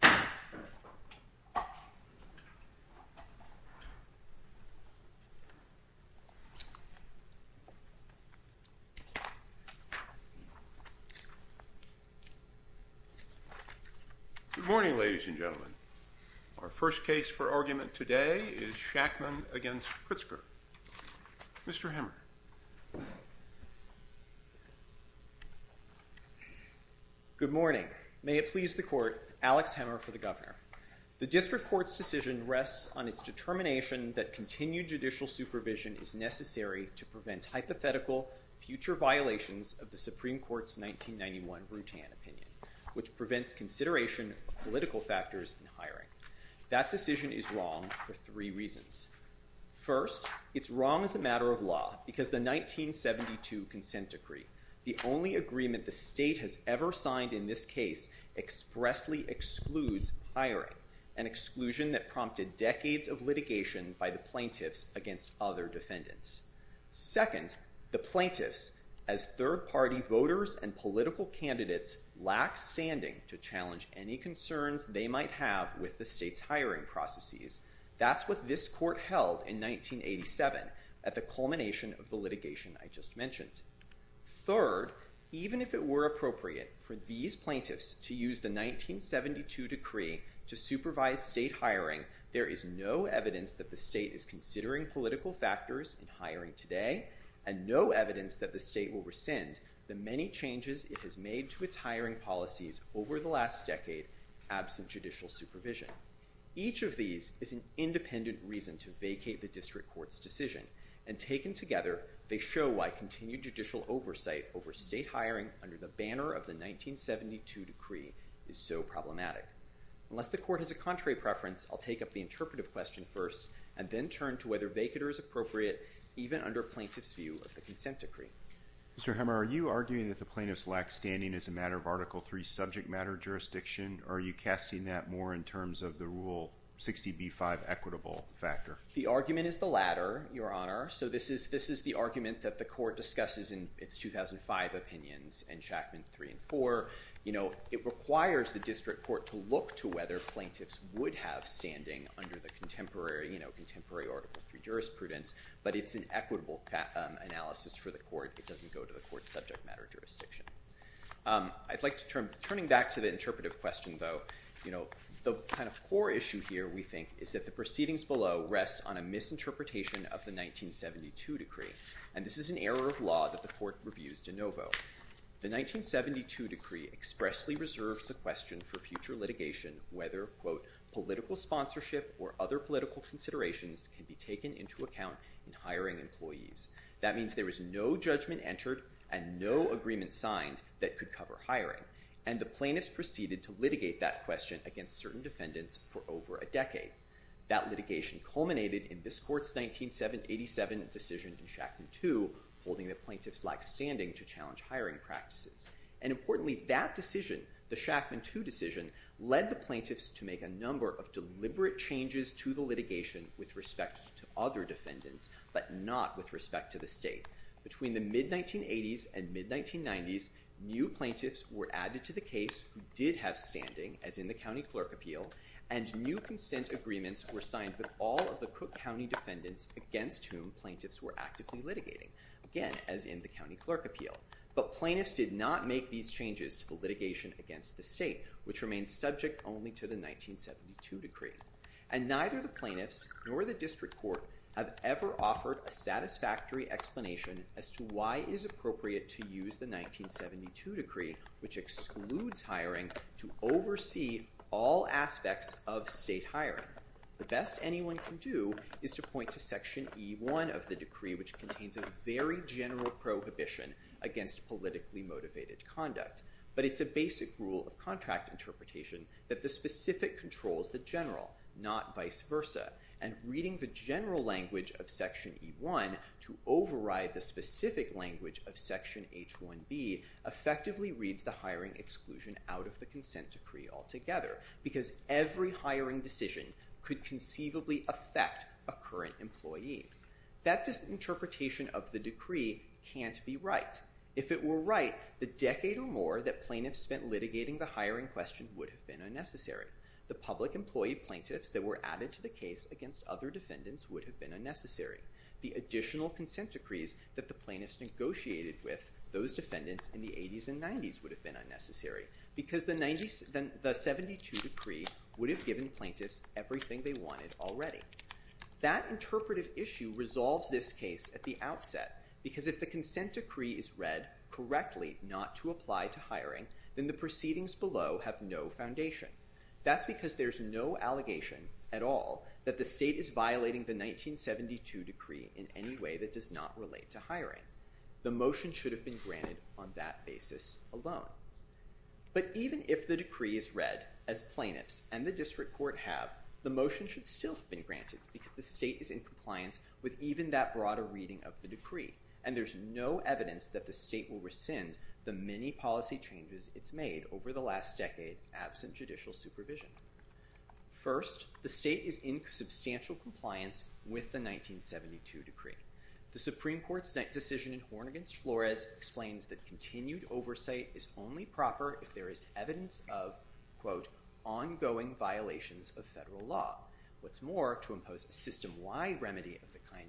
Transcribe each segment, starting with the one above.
Good morning, ladies and gentlemen. Our first case for argument today is Shakman v. Pritzker. Mr. Hemmer. Good morning. May it please the Court, Alex Hemmer for the Governor. The District Court's decision rests on its determination that continued judicial supervision is necessary to prevent hypothetical future violations of the Supreme Court's 1991 Rutan opinion, which prevents consideration of political factors in hiring. That decision is wrong for three reasons. First, it's wrong as a matter of law because the 1972 consent decree, the only agreement the state has ever signed in this case, expressly excludes hiring, an exclusion that prompted decades of litigation by the plaintiffs against other defendants. Second, the plaintiffs, as third party voters and political candidates, lack standing to what this court held in 1987 at the culmination of the litigation I just mentioned. Third, even if it were appropriate for these plaintiffs to use the 1972 decree to supervise state hiring, there is no evidence that the state is considering political factors in hiring today and no evidence that the state will rescind the many changes it has made to its hiring policies over the last decade absent judicial supervision. Each of these is an independent reason to vacate the District Court's decision, and taken together, they show why continued judicial oversight over state hiring under the banner of the 1972 decree is so problematic. Unless the Court has a contrary preference, I'll take up the interpretive question first and then turn to whether vacater is appropriate even under plaintiffs' view of the consent decree. Mr. Hemmer, are you arguing that the plaintiffs lack standing as a matter of Article III subject matter jurisdiction, or are you casting that more in terms of the Rule 60b-5 equitable factor? The argument is the latter, Your Honor. So this is the argument that the Court discusses in its 2005 opinions in Chackman 3 and 4. You know, it requires the District Court to look to whether plaintiffs would have standing under the contemporary Article III jurisprudence, but it's an equitable analysis for the Court. It doesn't go to the Court's subject matter jurisdiction. I'd like to turn back to the interpretive question, though. You know, the kind of core issue here, we think, is that the proceedings below rest on a misinterpretation of the 1972 decree, and this is an error of law that the Court reviews de novo. The 1972 decree expressly reserves the question for future litigation whether, quote, political sponsorship or other political considerations can be taken into account in hiring employees. That means there is no judgment entered and no agreement signed that could cover hiring, and the plaintiffs proceeded to litigate that question against certain defendants for over a decade. That litigation culminated in this Court's 1987 decision in Chackman 2, holding that plaintiffs lacked standing to challenge hiring practices. And importantly, that decision, the Chackman 2 decision, led the plaintiffs to make a number of deliberate changes to the litigation with respect to other defendants, but not with respect to the state. Between the mid-1980s and mid-1990s, new plaintiffs were added to the case who did have standing, as in the County Clerk Appeal, and new consent agreements were signed with all of the Cook County defendants against whom plaintiffs were actively litigating, again, as in the County Clerk Appeal. But plaintiffs did not make these changes to the litigation against the state, which remains subject only to the 1972 decree. And neither the plaintiffs nor the District Court have ever offered a satisfactory explanation as to why it is appropriate to use the 1972 decree, which excludes hiring, to oversee all aspects of state hiring. The best anyone can do is to point to Section E1 of the decree, which contains a very general prohibition against politically motivated conduct. But it's a basic rule of contract interpretation that the specific controls the general, not vice versa. And reading the general language of Section E1 to override the specific language of Section H1B effectively reads the hiring exclusion out of the consent decree altogether, because every hiring decision could conceivably affect a current employee. That interpretation of the decree can't be right. If it were right, the decade or more that plaintiffs spent litigating the hiring question would have been unnecessary. The public employee plaintiffs that were added to the case against other defendants would have been unnecessary. The additional consent decrees that the plaintiffs negotiated with those defendants in the 80s and 90s would have been unnecessary, because the 1972 decree would have given plaintiffs everything they wanted already. That interpretive issue resolves this case at the same time. If the plaintiffs are asked correctly not to apply to hiring, then the proceedings below have no foundation. That's because there's no allegation at all that the state is violating the 1972 decree in any way that does not relate to hiring. The motion should have been granted on that basis alone. But even if the decree is read as plaintiffs and the district court have, the motion should still have been granted, because the state is in compliance with even that broader reading of the Supreme Court's decision to rescind the many policy changes it's made over the last decade, absent judicial supervision. First, the state is in substantial compliance with the 1972 decree. The Supreme Court's decision in Horn against Flores explains that continued oversight is only proper if there is evidence of, quote, ongoing violations of federal law. What's more, to impose a system-wide violation of Rutan,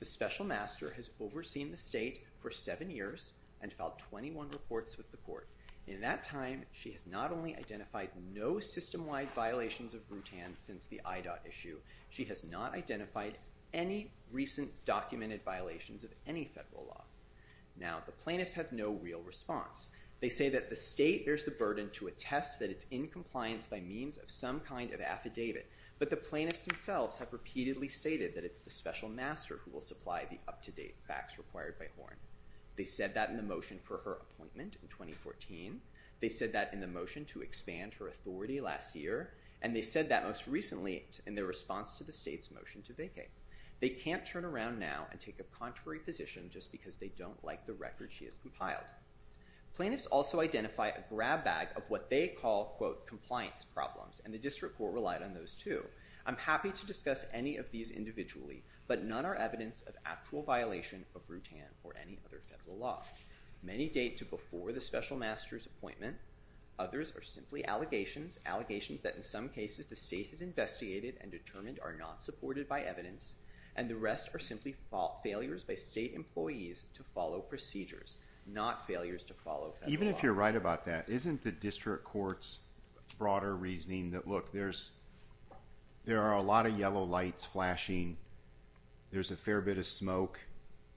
the special master has overseen the state for seven years and filed 21 reports with the court. In that time, she has not only identified no system-wide violations of Rutan since the IDOT issue, she has not identified any recent documented violations of any federal law. Now, the plaintiffs have no real response. They say that the state bears the burden to attest that it's in compliance by means of some kind of affidavit, but the plaintiffs themselves have repeatedly stated that it's the special master who will supply the up-to-date facts required by Horn. They said that in the motion for her appointment in 2014, they said that in the motion to expand her authority last year, and they said that most recently in their response to the state's motion to vacate. They can't turn around now and take a contrary position just because they don't like the record she has compiled. Plaintiffs also identify a grab bag of what they call, quote, compliance problems, and the district court relied on those too. I'm happy to discuss any of these individually, but none are evidence of actual violation of Rutan or any other federal law. Many date to before the special master's appointment. Others are simply allegations, allegations that in some cases the state has investigated and determined are not supported by evidence, and the rest are simply failures by state employees to follow procedures, not failures to follow federal law. Even if you're right about that, isn't the district court's broader reasoning that, look, there are a lot of yellow lights flashing. There's a fair bit of smoke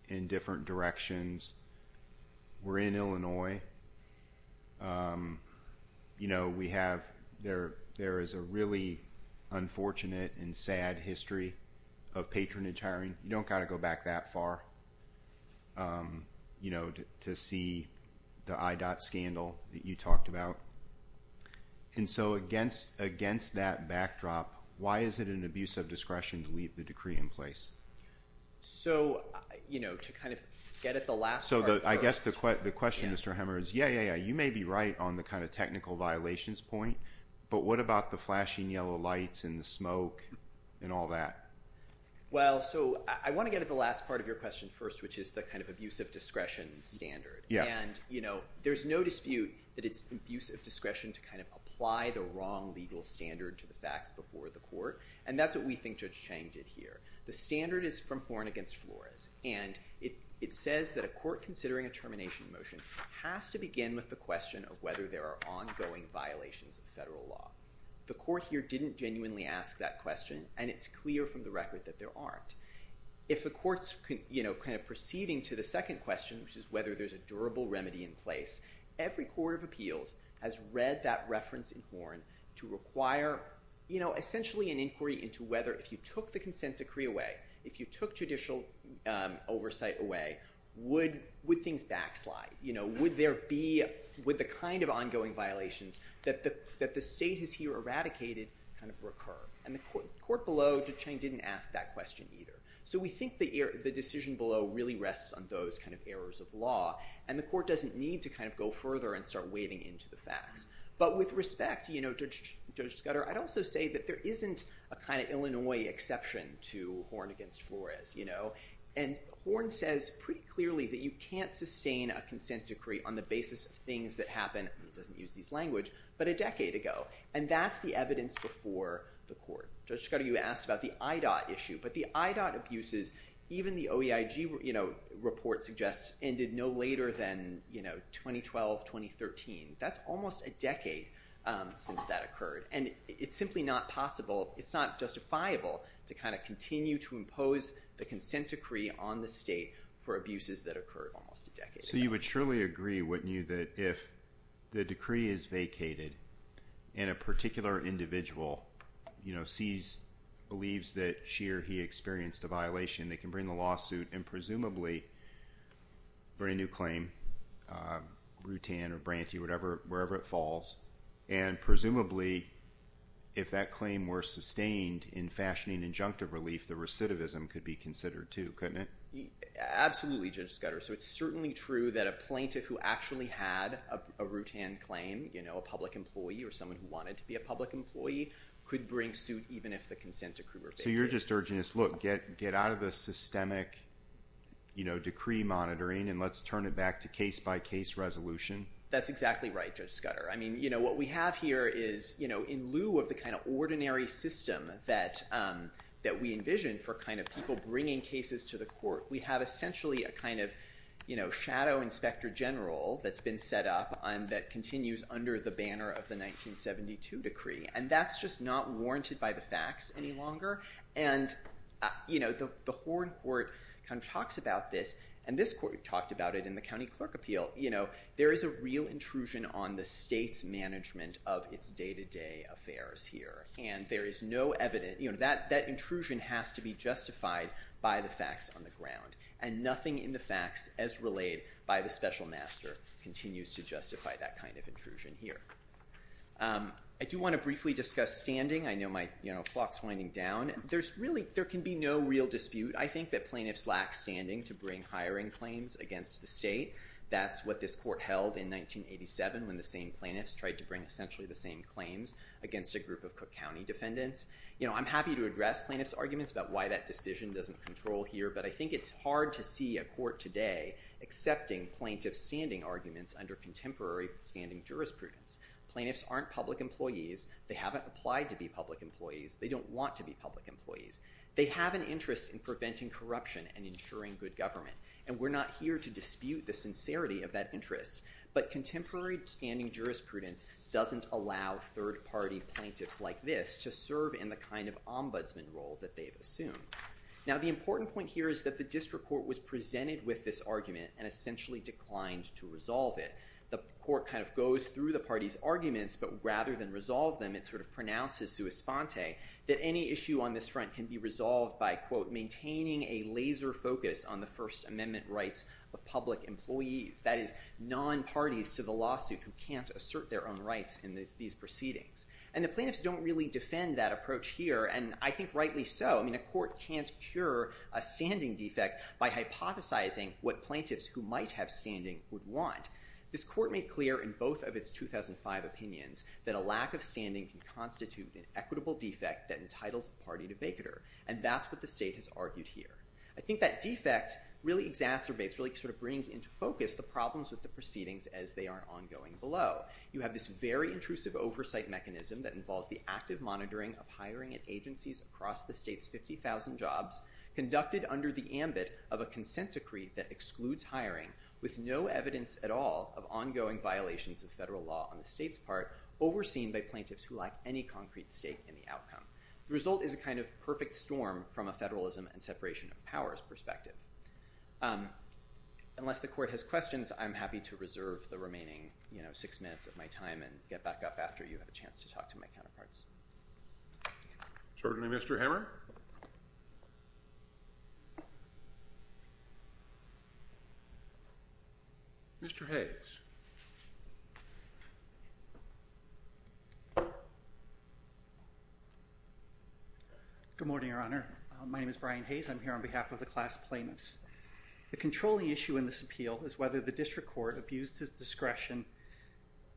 in different directions. We're in Illinois. You know, we have, there is a really unfortunate and sad history of patronage hiring. You don't get to see the IDOT scandal that you talked about. And so against that backdrop, why is it an abuse of discretion to leave the decree in place? So, you know, to kind of get at the last part first. So I guess the question, Mr. Hemmer, is yeah, yeah, yeah, you may be right on the kind of technical violations point, but what about the flashing yellow lights and the smoke and all that? Well, so I want to get at the last part of your question first, which is the kind of abuse of discretion standard. And, you know, there's no dispute that it's abuse of discretion to kind of apply the wrong legal standard to the facts before the court, and that's what we think Judge Chang did here. The standard is from Florence against Flores, and it says that a court considering a termination motion has to begin with the question of whether there are ongoing violations of federal law. The court here didn't genuinely ask that question, and it's clear from the record that there aren't. If the court's, you know, kind of proceeding to the second question, which is whether there's a durable remedy in place, every court of appeals has read that reference in Horn to require, you know, essentially an inquiry into whether if you took the consent decree away, if you took judicial oversight away, would things backslide? You know, would there be, with the kind of ongoing violations that the state has here eradicated kind of the court below, Judge Chang didn't ask that question either. So we think the decision below really rests on those kind of errors of law, and the court doesn't need to kind of go further and start wading into the facts. But with respect, you know, Judge Scudder, I'd also say that there isn't a kind of Illinois exception to Horn against Flores, you know, and Horn says pretty clearly that you can't sustain a consent decree on the basis of things that happen, doesn't use these language, but a lot of people have asked about the IDOT issue, but the IDOT abuses, even the OEIG, you know, report suggests ended no later than, you know, 2012-2013. That's almost a decade since that occurred, and it's simply not possible, it's not justifiable to kind of continue to impose the consent decree on the state for abuses that occurred almost a decade ago. So you would surely agree, wouldn't you, that if the plaintiff believes that she or he experienced a violation, they can bring the lawsuit and presumably bring a new claim, Rutan or Brantee, whatever, wherever it falls, and presumably, if that claim were sustained in fashioning injunctive relief, the recidivism could be considered too, couldn't it? Absolutely, Judge Scudder. So it's certainly true that a plaintiff who actually had a Rutan claim, you know, a public employee or someone who wanted to be a public employee, could bring suit even if the consent decree were abated. So you're just urging us, look, get out of the systemic, you know, decree monitoring and let's turn it back to case-by-case resolution? That's exactly right, Judge Scudder. I mean, you know, what we have here is, you know, in lieu of the kind of ordinary system that we envision for kind of people bringing cases to the court, we have essentially a kind of, you know, shadow inspector general that's been set up and that continues under the banner of the 1972 decree. And that's just not warranted by the facts any longer. And, you know, the Horne court kind of talks about this, and this court talked about it in the county clerk appeal, you know, there is a real intrusion on the state's management of its day-to-day affairs here. And there is no evidence, you know, that intrusion has to be justified by the facts on the ground. And nothing in the facts as relayed by the special master continues to justify that kind of intrusion here. I do want to briefly discuss standing. I know my, you know, clock's winding down. There's really, there can be no real dispute, I think, that plaintiffs lack standing to bring hiring claims against the state. That's what this court held in 1987 when the same plaintiffs tried to bring essentially the same claims against a group of Cook County defendants. You know, I'm happy to address plaintiff's arguments about why that decision doesn't control here, but I think it's hard to see a court today accepting plaintiff's standing arguments under contemporary standing jurisprudence. Plaintiffs aren't public employees. They haven't applied to be public employees. They don't want to be public employees. They have an interest in preventing corruption and ensuring good government. And we're not here to dispute the sincerity of that interest. But contemporary standing jurisprudence doesn't allow third party plaintiffs like this to serve in the kind of ombudsman role that they've assumed. Now, the important point here is that the district court was presented with this argument and essentially declined to resolve it. The court kind of goes through the party's arguments, but rather than resolve them, it sort of pronounces sua sponte that any issue on this front can be resolved by, quote, maintaining a laser focus on the First Amendment rights of public employees. That is, non-parties to the lawsuit who can't assert their own rights in these proceedings. And the plaintiffs don't really defend that approach here, and I think rightly so. I mean, a court can't cure a standing defect by hypothesizing what it might have standing would want. This court made clear in both of its 2005 opinions that a lack of standing can constitute an equitable defect that entitles the party to vacater. And that's what the state has argued here. I think that defect really exacerbates, really sort of brings into focus the problems with the proceedings as they are ongoing below. You have this very intrusive oversight mechanism that involves the active monitoring of hiring at agencies across the state's 50,000 jobs, conducted under the ambit of a consent decree that with no evidence at all of ongoing violations of federal law on the state's part, overseen by plaintiffs who lack any concrete stake in the outcome. The result is a kind of perfect storm from a federalism and separation of powers perspective. Unless the court has questions, I'm happy to reserve the remaining, you know, six minutes of my time and get back up after you have a chance to talk to my counterparts. Certainly, Mr. Hammer. Mr. Hayes. Good morning, Your Honor. My name is Brian Hayes. I'm here on behalf of the class plaintiffs. The controlling issue in this appeal is whether the district court abused his discretion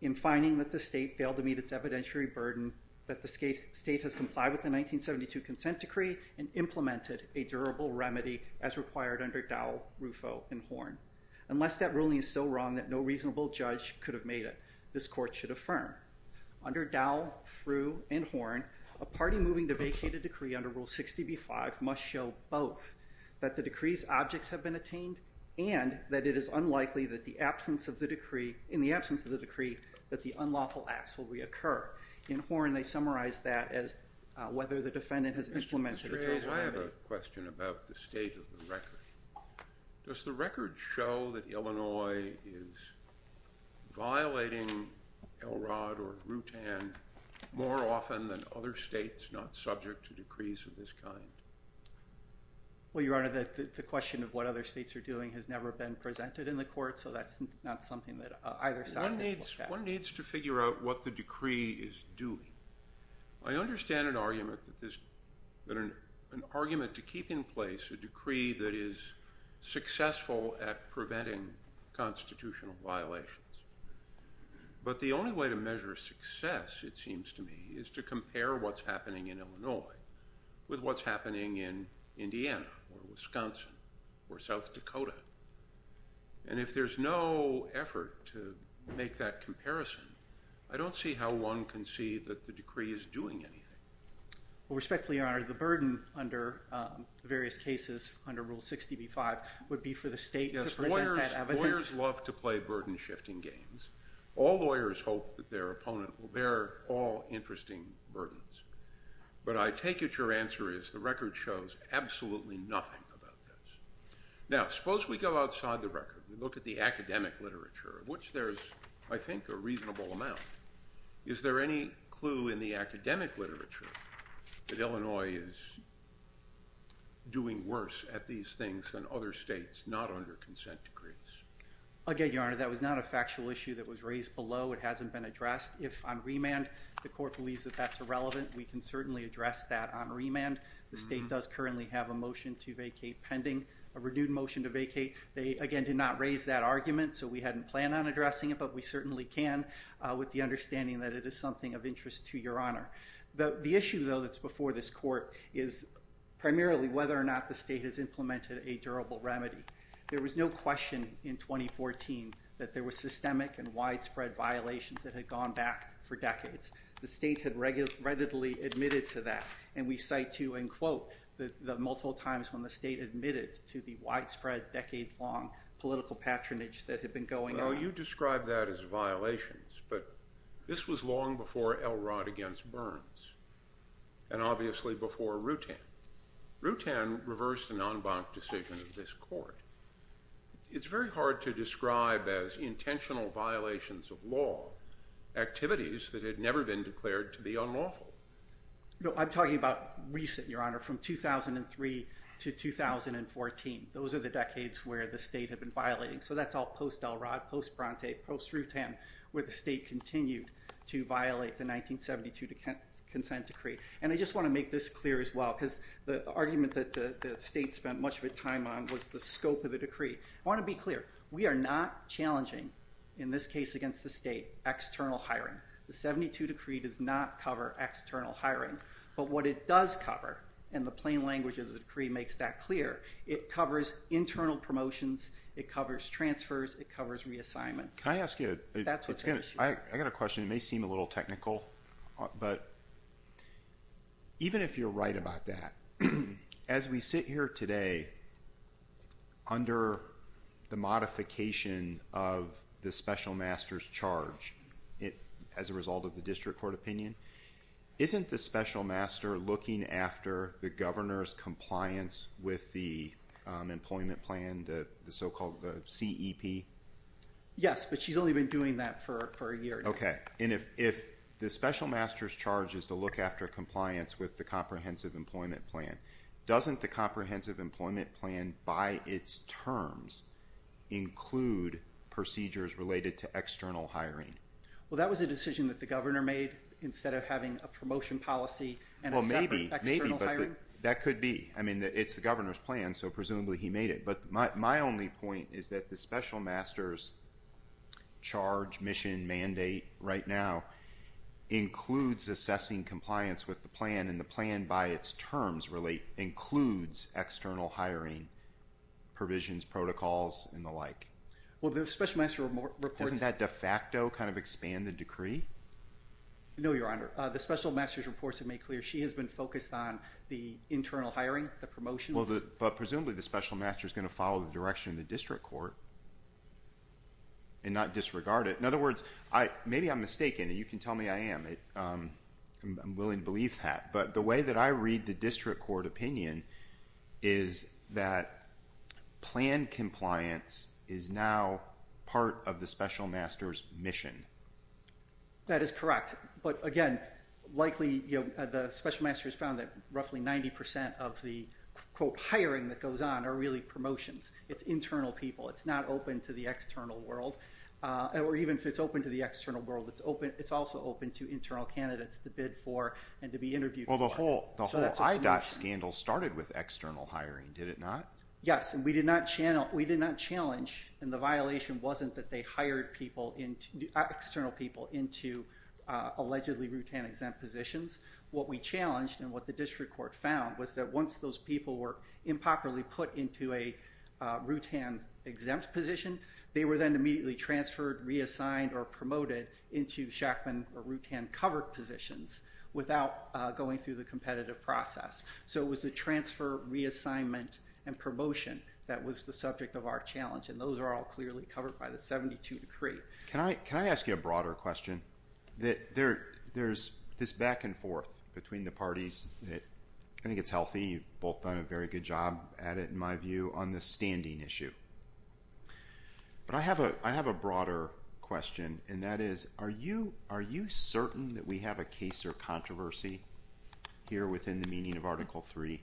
in finding that the state failed to meet its evidentiary burden that the state has complied with the 1972 consent decree and implemented a durable remedy as required under Dowell, Rufo, and Horn. Unless that ruling is so wrong that no reasonable judge could have made it, this court should affirm. Under Dowell, Rufo, and Horn, a party moving to vacate a decree under Rule 60b-5 must show both that the decree's objects have been attained and that it is unlikely that the absence of the decree, in the absence of the decree, that the unlawful acts will reoccur. In Horn, they summarize that as whether the defendant has implemented a durable remedy. Mr. Hayes, I have a question about the state of the record. Does the record show that Illinois is violating Elrod or Rutan more often than other states not subject to decrees of this kind? Well, Your Honor, that's not something that either side has looked at. One needs to figure out what the decree is doing. I understand an argument to keep in place a decree that is successful at preventing constitutional violations, but the only way to measure success, it seems to me, is to compare what's happening in Illinois with what's happening in Indiana or Wisconsin or South Dakota. And if there's no effort to make that comparison, I don't see how one can see that the decree is doing anything. Well, respectfully, Your Honor, the burden under the various cases under Rule 60b-5 would be for the state to present that evidence. Yes, lawyers love to play burden-shifting games. All lawyers hope that their opponent will bear all interesting burdens. But I take it your answer is the record shows absolutely nothing about this. Now, suppose we go outside the record and look at the academic literature, which there's, I think, a reasonable amount. Is there any clue in the academic literature that Illinois is doing worse at these things than other states not under consent decrees? Again, Your Honor, that was not a factual issue that was raised below. It was a matter of remand. The state does currently have a motion to vacate pending, a renewed motion to vacate. They, again, did not raise that argument, so we hadn't planned on addressing it, but we certainly can, with the understanding that it is something of interest to Your Honor. The issue, though, that's before this Court is primarily whether or not the state has implemented a durable remedy. There was no question in 2014 that there were systemic and widespread violations that had gone back for decades. The state had readily admitted to that, and we cite to, and quote, the multiple times when the state admitted to the widespread, decade-long political patronage that had been going on. Well, you describe that as violations, but this was long before Elrod against Burns, and obviously before Rutan. Rutan reversed an en banc decision of this Court. It's very hard to describe as intentional violations of law activities that had never been declared to be unlawful. I'm talking about recent, Your Honor, from 2003 to 2014. Those are the decades where the state had been violating. So that's all post-Elrod, post-Bronte, post-Rutan, where the state continued to violate the 1972 consent decree. And I just want to make this clear as well, because the argument that the state spent much of its time on was the scope of the decree. I want to be clear. We are not challenging, in this case against the state, external hiring. The 1972 decree does not cover external hiring. But what it does cover, and the plain language of the decree makes that clear, it covers internal promotions, it covers transfers, it covers reassignments. Can I ask you a question? It may seem a little technical, but even if you're right about that, as we sit here today, under the modification of the special master's charge, as a result of the district court opinion, isn't the special master looking after the governor's compliance with the employment plan, the so-called CEP? Yes, but she's only been doing that for a year now. Okay. And if the special master's charge is to look after compliance with the comprehensive employment plan, doesn't the comprehensive employment plan, by its terms, include procedures related to external hiring? Well, that was a decision that the governor made, instead of having a promotion policy and a separate external hiring? Well, maybe, but that could be. I mean, it's the governor's plan, so presumably he made it. But my only point is that the special master's charge, mission, mandate, right now, includes assessing compliance with the plan, and the plan, by its terms, includes external hiring, provisions, protocols, and the like. Doesn't that de facto kind of expand the decree? No, Your Honor. The special master's reports have made clear she has been focused on the internal hiring, the promotions. Well, but presumably the special master's going to follow the direction of the district court and not disregard it. In other words, maybe I'm mistaken, and you can tell me I am. I'm willing to believe that. But the way that I read the district court opinion is that plan compliance is now part of the special master's mission. That is correct. But again, likely, the special master's found that roughly 90% of the, quote, hiring that goes on are really promotions. It's internal people. It's not open to the external world. Or even if it's open to the external world, it's also open to internal candidates to bid for and to be interviewed for. Well, the whole IDOT scandal started with external hiring, did it not? Yes, and we did not challenge, and the violation wasn't that they hired people, external people, into allegedly root-hand-exempt positions. What we challenged and what the district court found was that once those people were improperly put into a root-hand-exempt position, they were then immediately transferred, reassigned, or promoted into Shackman or root-hand-covered positions without going through the competitive process. So it was the transfer, reassignment, and promotion that was the subject of our challenge, and those are all clearly covered by the 72 decree. Can I ask you a broader question? There's this back and forth between the parties. I think it's healthy. You've both done a very good job at it, in my view, on the standing issue. But I have a broader question, and that is, are you certain that we have a case or controversy here within the meaning of Article III?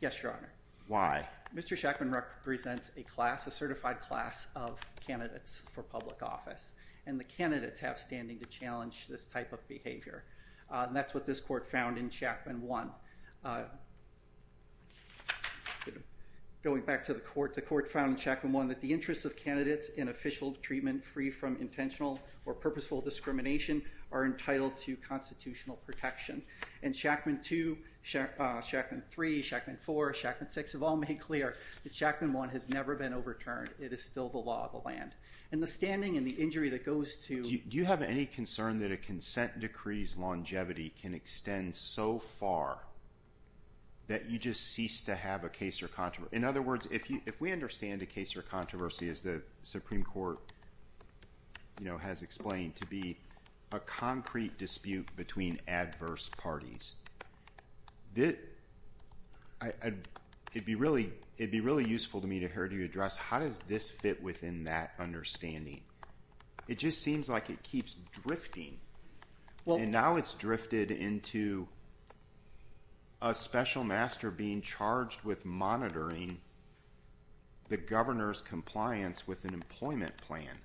Yes, Your Honor. Why? Mr. Shackman represents a class, a certified class, of candidates for public office, and the candidates have standing to challenge this type of behavior, and that's what this court found in Shackman 1. Going back to the court, the court found in Shackman 1 that the interests of candidates in official treatment free from intentional or purposeful discrimination are entitled to constitutional protection. And Shackman 2, Shackman 3, Shackman 4, Shackman 6 have all made clear that Shackman 1 has never been overturned. It is still the law of the land. And the standing and the injury that goes to— the consent decree's longevity can extend so far that you just cease to have a case or controversy. In other words, if we understand a case or controversy, as the Supreme Court has explained, to be a concrete dispute between adverse parties, it'd be really useful to me to hear you address, how does this fit within that understanding? It just seems like it keeps drifting. And now it's drifted into a special master being charged with monitoring the governor's compliance with an employment plan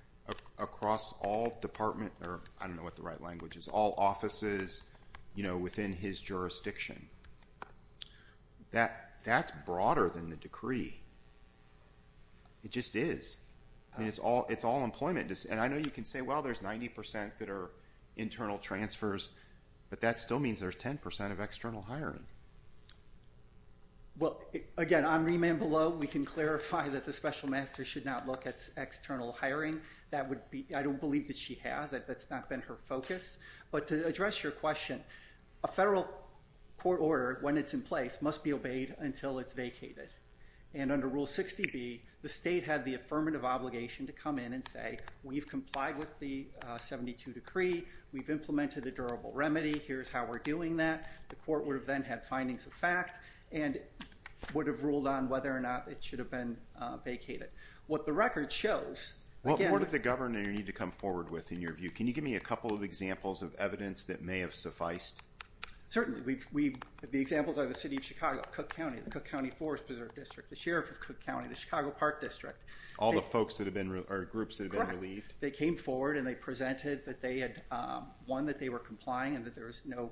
across all department—I don't know what the right language is—all offices within his jurisdiction. That's broader than the decree. It just is. I mean, it's all employment. And I know you can say, well, there's 90 percent that are internal transfers, but that still means there's 10 percent of external hiring. Well, again, on remand below, we can clarify that the special master should not look at external hiring. That would be—I don't believe that she has. That's not been her focus. But to address your question, a federal court order, when it's in place, must be obeyed until it's vacated. And under Rule 60B, the state had the affirmative obligation to come in and say, we've complied with the 72 decree. We've implemented a durable remedy. Here's how we're doing that. The court would have then had findings of fact and would have ruled on whether or not it should have been vacated. What the record shows— What did the governor need to come forward with, in your view? Can you give me a couple of examples of evidence that may have sufficed? Certainly. The examples are the city of Chicago, Cook County. The Cook County Forest Preserve District. The sheriff of Cook County. The Chicago Park District. All the folks that have been—or groups that have been relieved. Correct. They came forward and they presented that they had—one, that they were complying and that there was no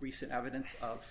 recent evidence of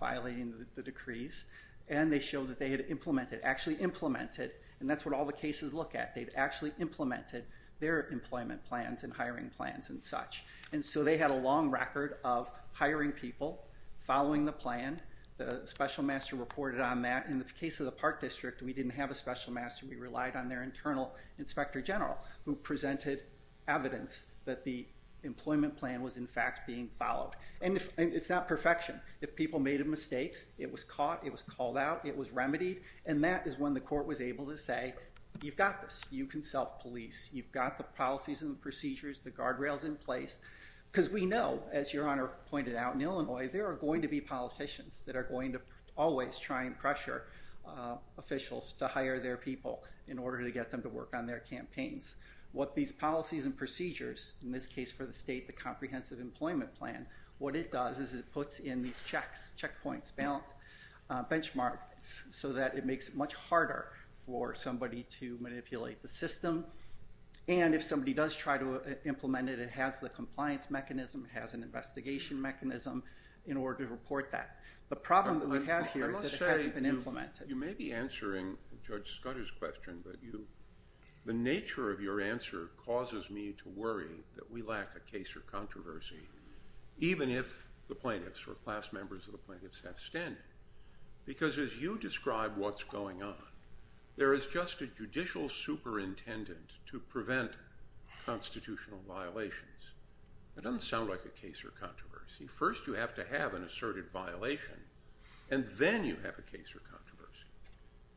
violating the decrees. And they showed that they had implemented—actually implemented—and that's what all the cases look at. They've actually implemented their employment plans and hiring plans and such. And so they had a long record of hiring people, following the plan. The special master reported on that. In the case of the Park District, we didn't have a special master. We relied on their internal inspector general who presented evidence that the employment plan was, in fact, being followed. And it's not perfection. If people made mistakes, it was caught. It was called out. It was remedied. And that is when the court was able to say, you've got this. You can self-police. You've got the policies and procedures. The guardrail's in place. Because we know, as Your Honor pointed out, in Illinois, there are going to be politicians that are going to always try and pressure officials to hire their people in order to get them to work on their campaigns. What these policies and procedures—in this case, for the state, the comprehensive employment plan—what it does is it puts in these checks, checkpoints, benchmarks, so that it makes it much harder for somebody to manipulate the system. And if somebody does try to implement it, it has the compliance mechanism. It has an investigation mechanism in order to report that. The problem that we have here is that it hasn't been implemented. I must say, you may be answering Judge Scudder's question, but the nature of your answer causes me to worry that we lack a case or controversy, even if the plaintiffs or class members of the plaintiffs have standing. Because as you describe what's going on, there is just a judicial superintendent to prevent constitutional violations. That doesn't sound like a case or controversy. First, you have to have an asserted violation, and then you have a case or controversy.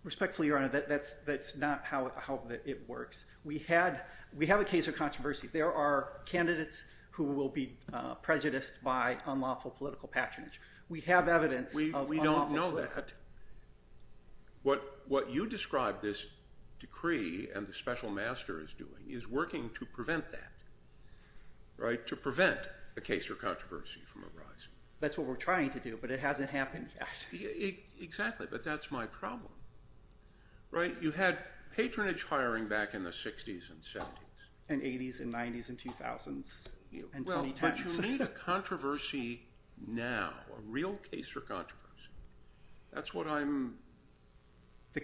Respectfully, Your Honor, that's not how it works. We have a case or controversy. There are candidates who will be prejudiced by unlawful political patronage. We have evidence of unlawful political patronage. We don't know that. What you describe this decree and the special master is doing is working to prevent that, to prevent a case or controversy from arising. That's what we're trying to do, but it hasn't happened yet. Exactly, but that's my problem. You had patronage hiring back in the 60s and 70s. And 80s and 90s and 2000s and 2010s. But you need a controversy now, a real case or controversy. That's what I'm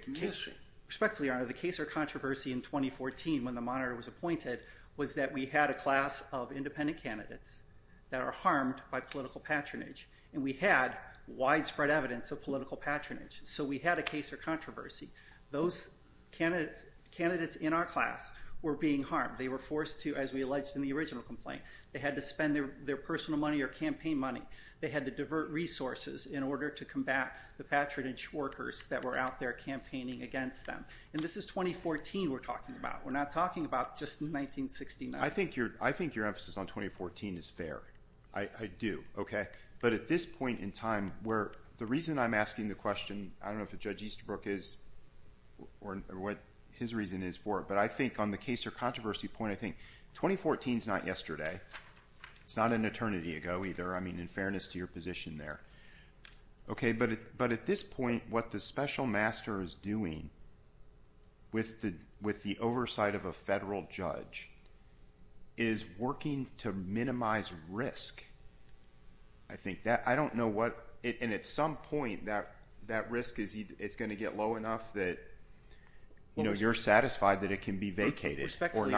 missing. Respectfully, Your Honor, the case or controversy in 2014 when the monitor was appointed was that we had a class of independent candidates that are harmed by political patronage. And we had widespread evidence of political patronage. So we had a case or controversy. Those candidates in our class were being harmed. They were forced to, as we alleged in the original complaint, they had to spend their personal money or campaign money. They had to divert resources in order to combat the patronage workers that were out there campaigning against them. And this is 2014 we're talking about. We're not talking about just 1969. I think your emphasis on 2014 is fair. I do, okay? But at this point in time where the reason I'm asking the question, I don't know if Judge Easterbrook is or what his reason is for it, but I think on the case or controversy point, I think 2014 is not yesterday. It's not an eternity ago either. I mean, in fairness to your position there. But at this point, what the special master is doing with the oversight of a federal judge is working to minimize risk. I don't know what, and at some point, that risk is going to get low enough that you're satisfied that it can be vacated. Respectfully,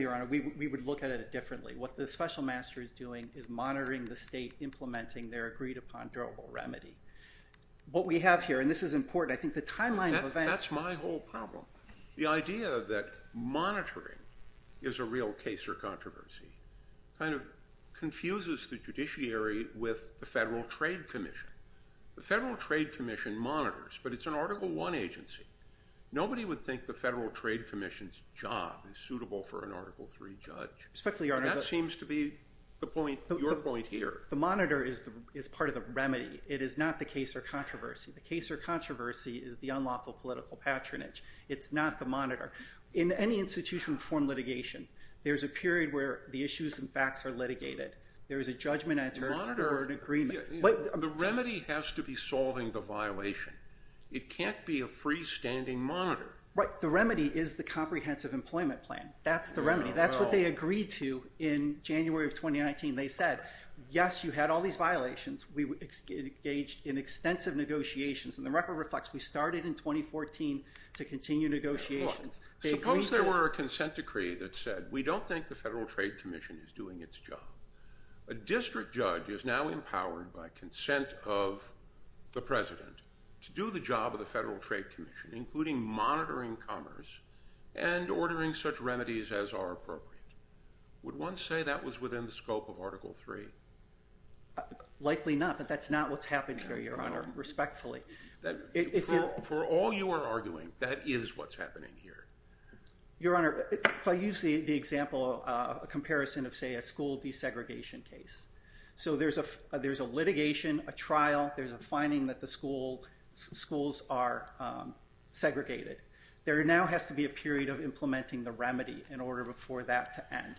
Your Honor, we would look at it differently. What the special master is doing is monitoring the state, implementing their agreed-upon durable remedy. What we have here, and this is important, I think the timeline of events. That's my whole problem. The idea that monitoring is a real case or controversy kind of confuses the judiciary with the Federal Trade Commission. The Federal Trade Commission monitors, but it's an Article I agency. Nobody would think the Federal Trade Commission's job is suitable for an Article III judge. And that seems to be your point here. The monitor is part of the remedy. It is not the case or controversy. The case or controversy is the unlawful political patronage. It's not the monitor. In any institution of informed litigation, there's a period where the issues and facts are litigated. There is a judgment and an attorney for an agreement. The remedy has to be solving the violation. It can't be a freestanding monitor. The remedy is the comprehensive employment plan. That's the remedy. That's what they agreed to in January of 2019. They said, yes, you had all these violations. We engaged in extensive negotiations. And the record reflects we started in 2014 to continue negotiations. Suppose there were a consent decree that said, we don't think the Federal Trade Commission is doing its job. A district judge is now empowered by consent of the president to do the job of the Federal Trade Commission, including monitoring commerce and ordering such remedies as are appropriate. Would one say that was within the scope of Article III? Likely not. But that's not what's happening here, Your Honor, respectfully. For all you are arguing, that is what's happening here. Your Honor, if I use the example, a comparison of, say, a school desegregation case. So there's a litigation, a trial, there's a finding that the schools are segregated. There now has to be a period of implementing the remedy in order for that to end.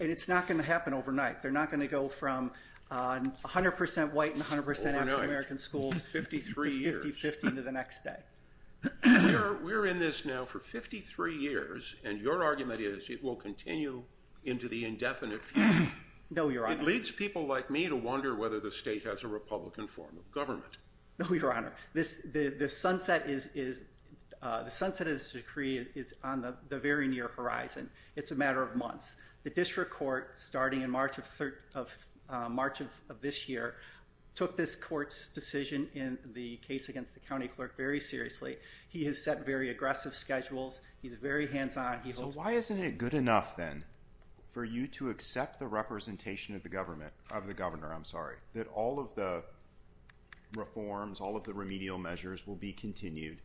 And it's not going to happen overnight. They're not going to go from 100% white and 100% African-American schools to 50-50 to the next day. We're in this now for 53 years, and your argument is it will continue into the indefinite future. No, Your Honor. It leads people like me to wonder whether the state has a Republican form of government. No, Your Honor. The sunset of this decree is on the very near horizon. It's a matter of months. The district court, starting in March of this year, took this court's decision in the case against the county clerk very seriously. He has set very aggressive schedules. He's very hands-on. So why isn't it good enough then for you to accept the representation of the government, of the governor, I'm sorry, that all of the reforms, all of the remedial measures will be continued?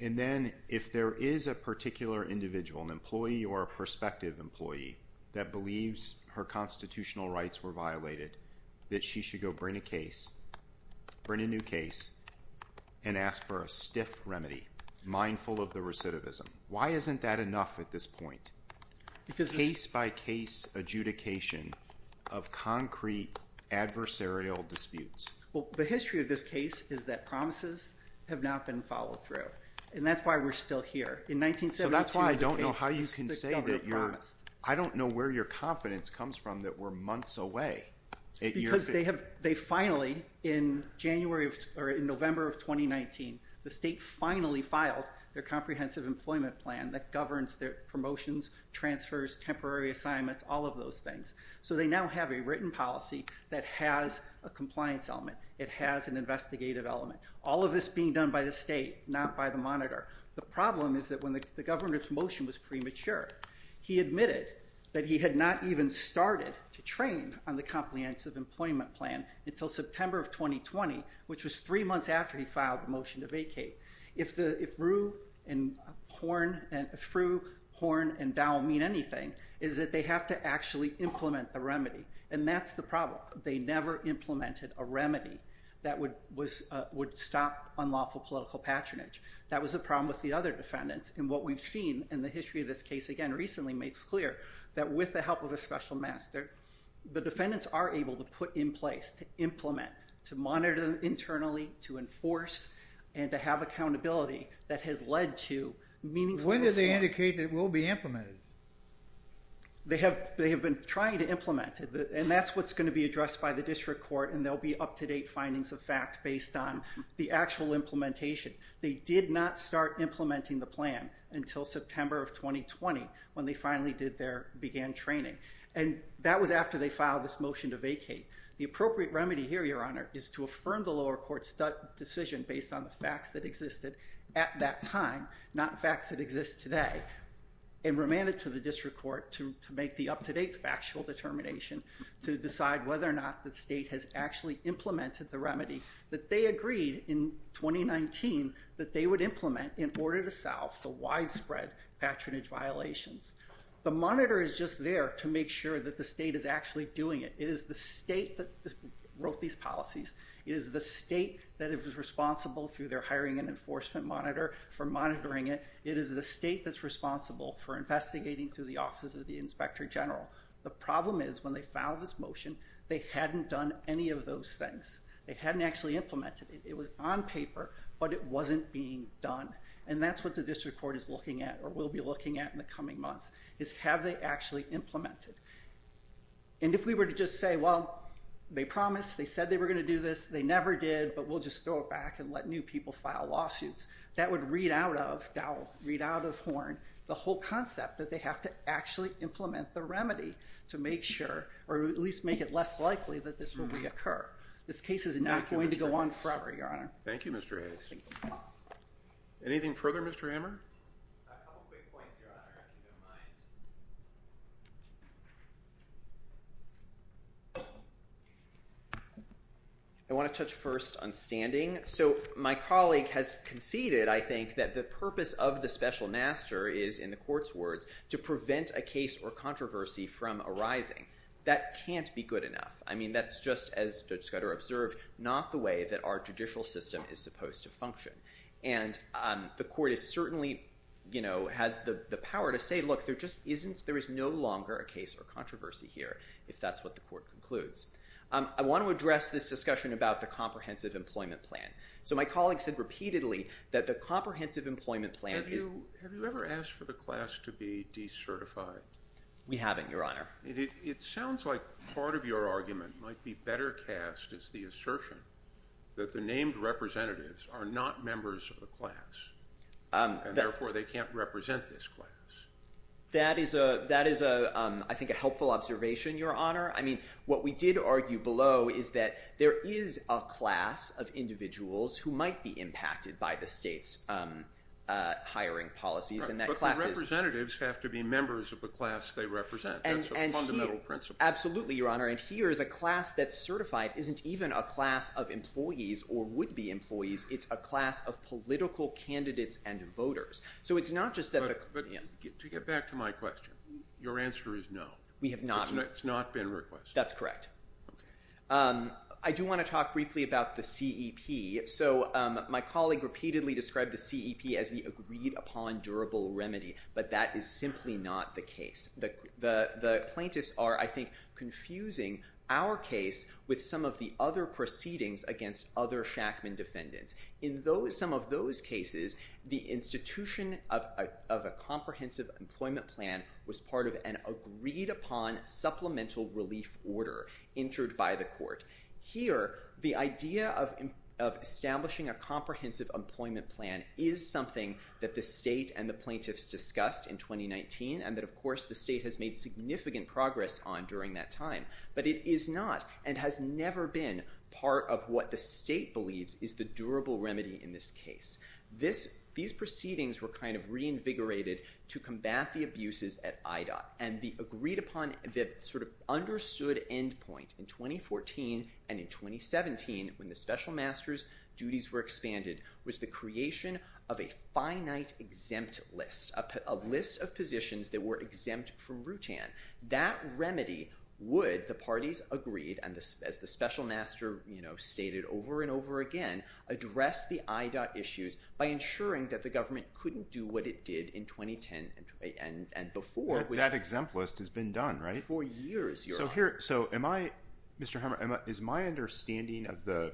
And then, if there is a particular individual, an employee or a prospective employee that believes her constitutional rights were violated, that she should go bring a case, bring a new case, and ask for a stiff remedy, mindful of the recidivism, why isn't that enough at this point? Because... Case-by-case adjudication of concrete adversarial disputes. Well, the history of this case is that promises have not been followed through, and that's why we're still here. So that's why I don't know how you can say that you're... I don't know where your confidence comes from that we're months away. Because they have, they finally, in January of, or in November of 2019, the state finally filed their comprehensive employment plan that governs their promotions, transfers, temporary assignments, all of those things. So they now have a written policy that has a compliance element. It has an investigative element. All of this being done by the state, not by the monitor. The problem is that when the governor's motion was premature, he admitted that he had not even started to train on the comprehensive employment plan until September of 2020, which was three months after he filed the motion to vacate. If the, if Rue and Horne, if Rue, Horne, and Dow mean anything, is that they have to actually implement the remedy. And that's the problem. They never implemented a remedy that would stop unlawful political patronage. That was a problem with the other defendants. And what we've seen in the history of this case, again, recently, makes clear that with the help of a special master, the defendants are able to put in place, to implement, to monitor internally, to enforce, and to have accountability that has led to meaningful... When do they indicate it will be implemented? They have, they have been trying to implement it. And that's what's gonna be addressed by the district court, and there'll be up-to-date findings of fact based on the actual implementation. They did not start implementing the plan until September of 2020, when they finally did their, began training. And that was after they filed this motion to vacate. The appropriate remedy here, Your Honor, is to affirm the lower court's decision based on the facts that existed at that time, not facts that exist today, and remand it to the district court to make the up-to-date factual determination to decide whether or not the state has actually implemented the remedy that they agreed in 2019 that they would implement in order to solve the widespread patronage violations. The monitor is just there to make sure that the state is actually doing it. It is the state that wrote these policies. It is the state that is responsible through their hiring and enforcement monitor for monitoring it. It is the state that's responsible for investigating through the Office of the Inspector General. The problem is, when they filed this motion, they hadn't done any of those things. They hadn't actually implemented it. It was on paper, but it wasn't being done. And that's what the district court is looking at or will be looking at in the coming months, is have they actually implemented? And if we were to just say, well, they promised, they said they were going to do this, they never did, but we'll just throw it back and let new people file lawsuits, that would read out of Dowell, read out of Horn, the whole concept that they have to actually implement the remedy to make sure, or at least make it less likely, that this will reoccur. This case is not going to go on forever, Your Honor. Thank you, Mr. Hayes. Anything further, Mr. Hammer? A couple quick points, Your Honor. If you don't mind. I want to touch first on standing. So my colleague has conceded, I think, that the purpose of the special master is, in the court's words, to prevent a case or controversy from arising. That can't be good enough. I mean, that's just, as Judge Scudder observed, not the way that our judicial system is supposed to function. And the court is certainly, you know, has the power to say, look, there just isn't, there is no longer a case or controversy here, if that's what the court concludes. I want to address this discussion about the Comprehensive Employment Plan. So my colleague said repeatedly that the Comprehensive Employment Plan is... Have you ever asked for the class to be decertified? We haven't, Your Honor. It sounds like part of your argument might be better cast as the assertion that the named representatives are not members of the class. And therefore, they can't represent this class. That is a, that is a, I think a helpful observation, Your Honor. I mean, what we did argue below is that there is a class of individuals who might be impacted by the state's hiring policies, and that class is... But the representatives have to be members of the class they represent. That's a fundamental principle. Absolutely, Your Honor. And here, the class that's certified isn't even a class of employees or would-be employees. It's a class of political candidates and voters. So it's not just that... But, to get back to my question, your answer is no. We have not... It's not been requested. That's correct. Okay. I do want to talk briefly about the CEP. So, my colleague repeatedly described the CEP as the agreed-upon durable remedy, but that is simply not the case. The, the plaintiffs are, I think, confusing our case with some of the other proceedings against other Shackman defendants. In those, in some of those cases, the institution of, of a comprehensive employment plan was part of an agreed-upon supplemental relief order entered by the court. Here, of, of establishing a comprehensive employment plan is something that the state and the plaintiffs discussed in 2019 and that, of course, the state has made significant progress on during that time. But it is not and has never been part of what the state believes is the durable remedy in this case. This, these proceedings were kind of reinvigorated to combat the abuses at IDOT and the agreed-upon sort of understood end point in 2014 and in 2017 when the special master's duties were expanded was the creation of a finite exempt list, a list of positions that were exempt from Rutan. That remedy would, the parties agreed and as the special master, you know, stated over and over again, address the IDOT issues by ensuring that the government couldn't do what it did in 2010 and, and before. That exempt list has been done, right? For years, Your Honor. So here, so am I, Mr. Hammer, is my understanding of the,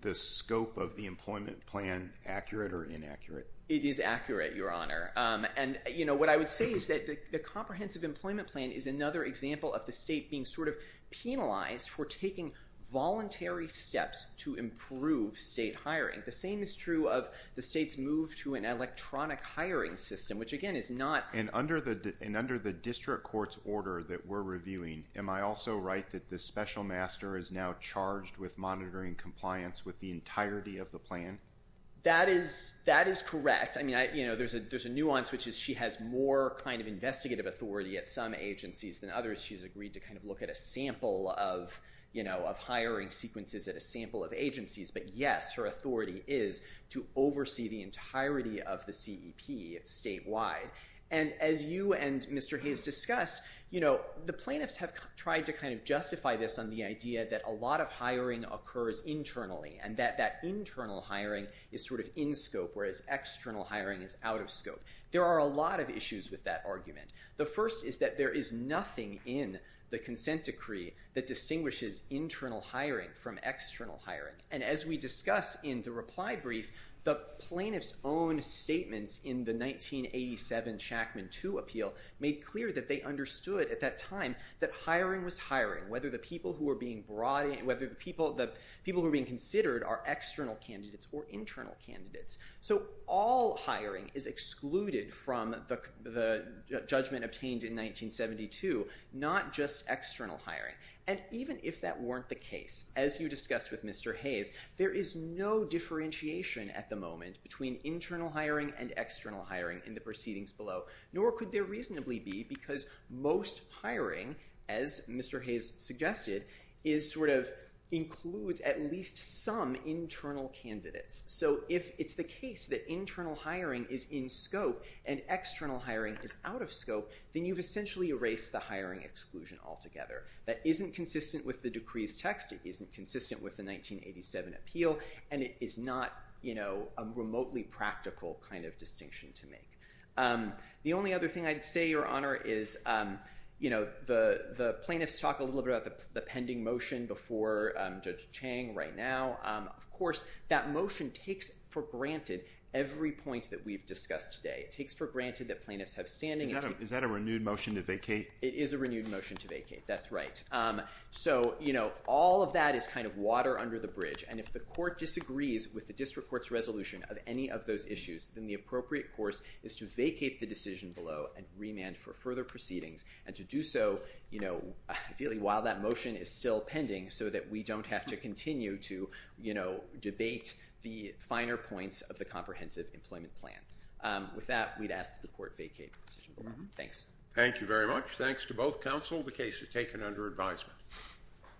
the scope of the employment plan accurate or inaccurate? It is accurate, Your Honor. And, you know, what I would say is that the comprehensive employment plan is another example of the state being sort of penalized for taking voluntary steps to improve state hiring. The same is true of the state's move to an electronic hiring system, which again is not, And under the, and under the district court's order that we're reviewing, am I also right that the special master is now charged with monitoring compliance with the entirety of the plan? That is, that is correct. I mean, you know, there's a, there's a nuance which is she has more kind of investigative authority at some agencies than others. She's agreed to kind of look at a sample of, you know, of hiring sequences at a sample of agencies. But yes, her authority is to oversee the entirety of the CEP statewide. And as you and Mr. Hayes discussed, you know, the plaintiffs have tried to kind of justify this on the idea that a lot of hiring occurs internally and that, that internal hiring is sort of in scope, whereas external hiring is out of scope. There are a lot of issues with that argument. The first is that there is nothing in the consent decree that distinguishes internal hiring from external hiring. And as we discussed in the reply brief, the plaintiff's own statements in the 1987 Chackman II appeal made clear that they understood at that time that hiring was hiring, whether the people who were being brought in, whether the people who were being considered are external candidates or internal candidates. So all hiring is excluded from the judgment obtained in 1972, not just external hiring. And even if that weren't the case, as you discussed with Mr. Hayes, there is no differentiation at the moment between internal hiring and external hiring in the proceedings below, nor could there reasonably be because most hiring, as Mr. Hayes suggested, includes at least some internal candidates. So if it's the case that internal hiring is in scope and external hiring is out of scope, then you've essentially erased the hiring exclusion altogether. That isn't consistent with the decree's text, it isn't consistent with the 1987 appeal, and it is not a remotely practical distinction to make. The only other thing I'd say, Your Honor, is the plaintiffs talk a little bit about the pending motion before Judge Chang right now. Of course, that motion takes for granted every point that we've discussed today. It takes for granted that plaintiffs have standing. Is that a renewed motion to vacate? It is a renewed motion to vacate, that's right. So, you know, all of that is kind of water under the bridge, and if the court disagrees with the district court's resolution of any of those issues, then the appropriate course is to vacate the decision below and remand for further proceedings, and to do so, you know, ideally while that motion is still pending so that we don't have to continue to, you know, debate the finer points of the comprehensive employment plan. With that, we'd ask that the court vacate the decision below. Thanks. Thank you very much. Thanks to both counsel. The case is taken under advisement.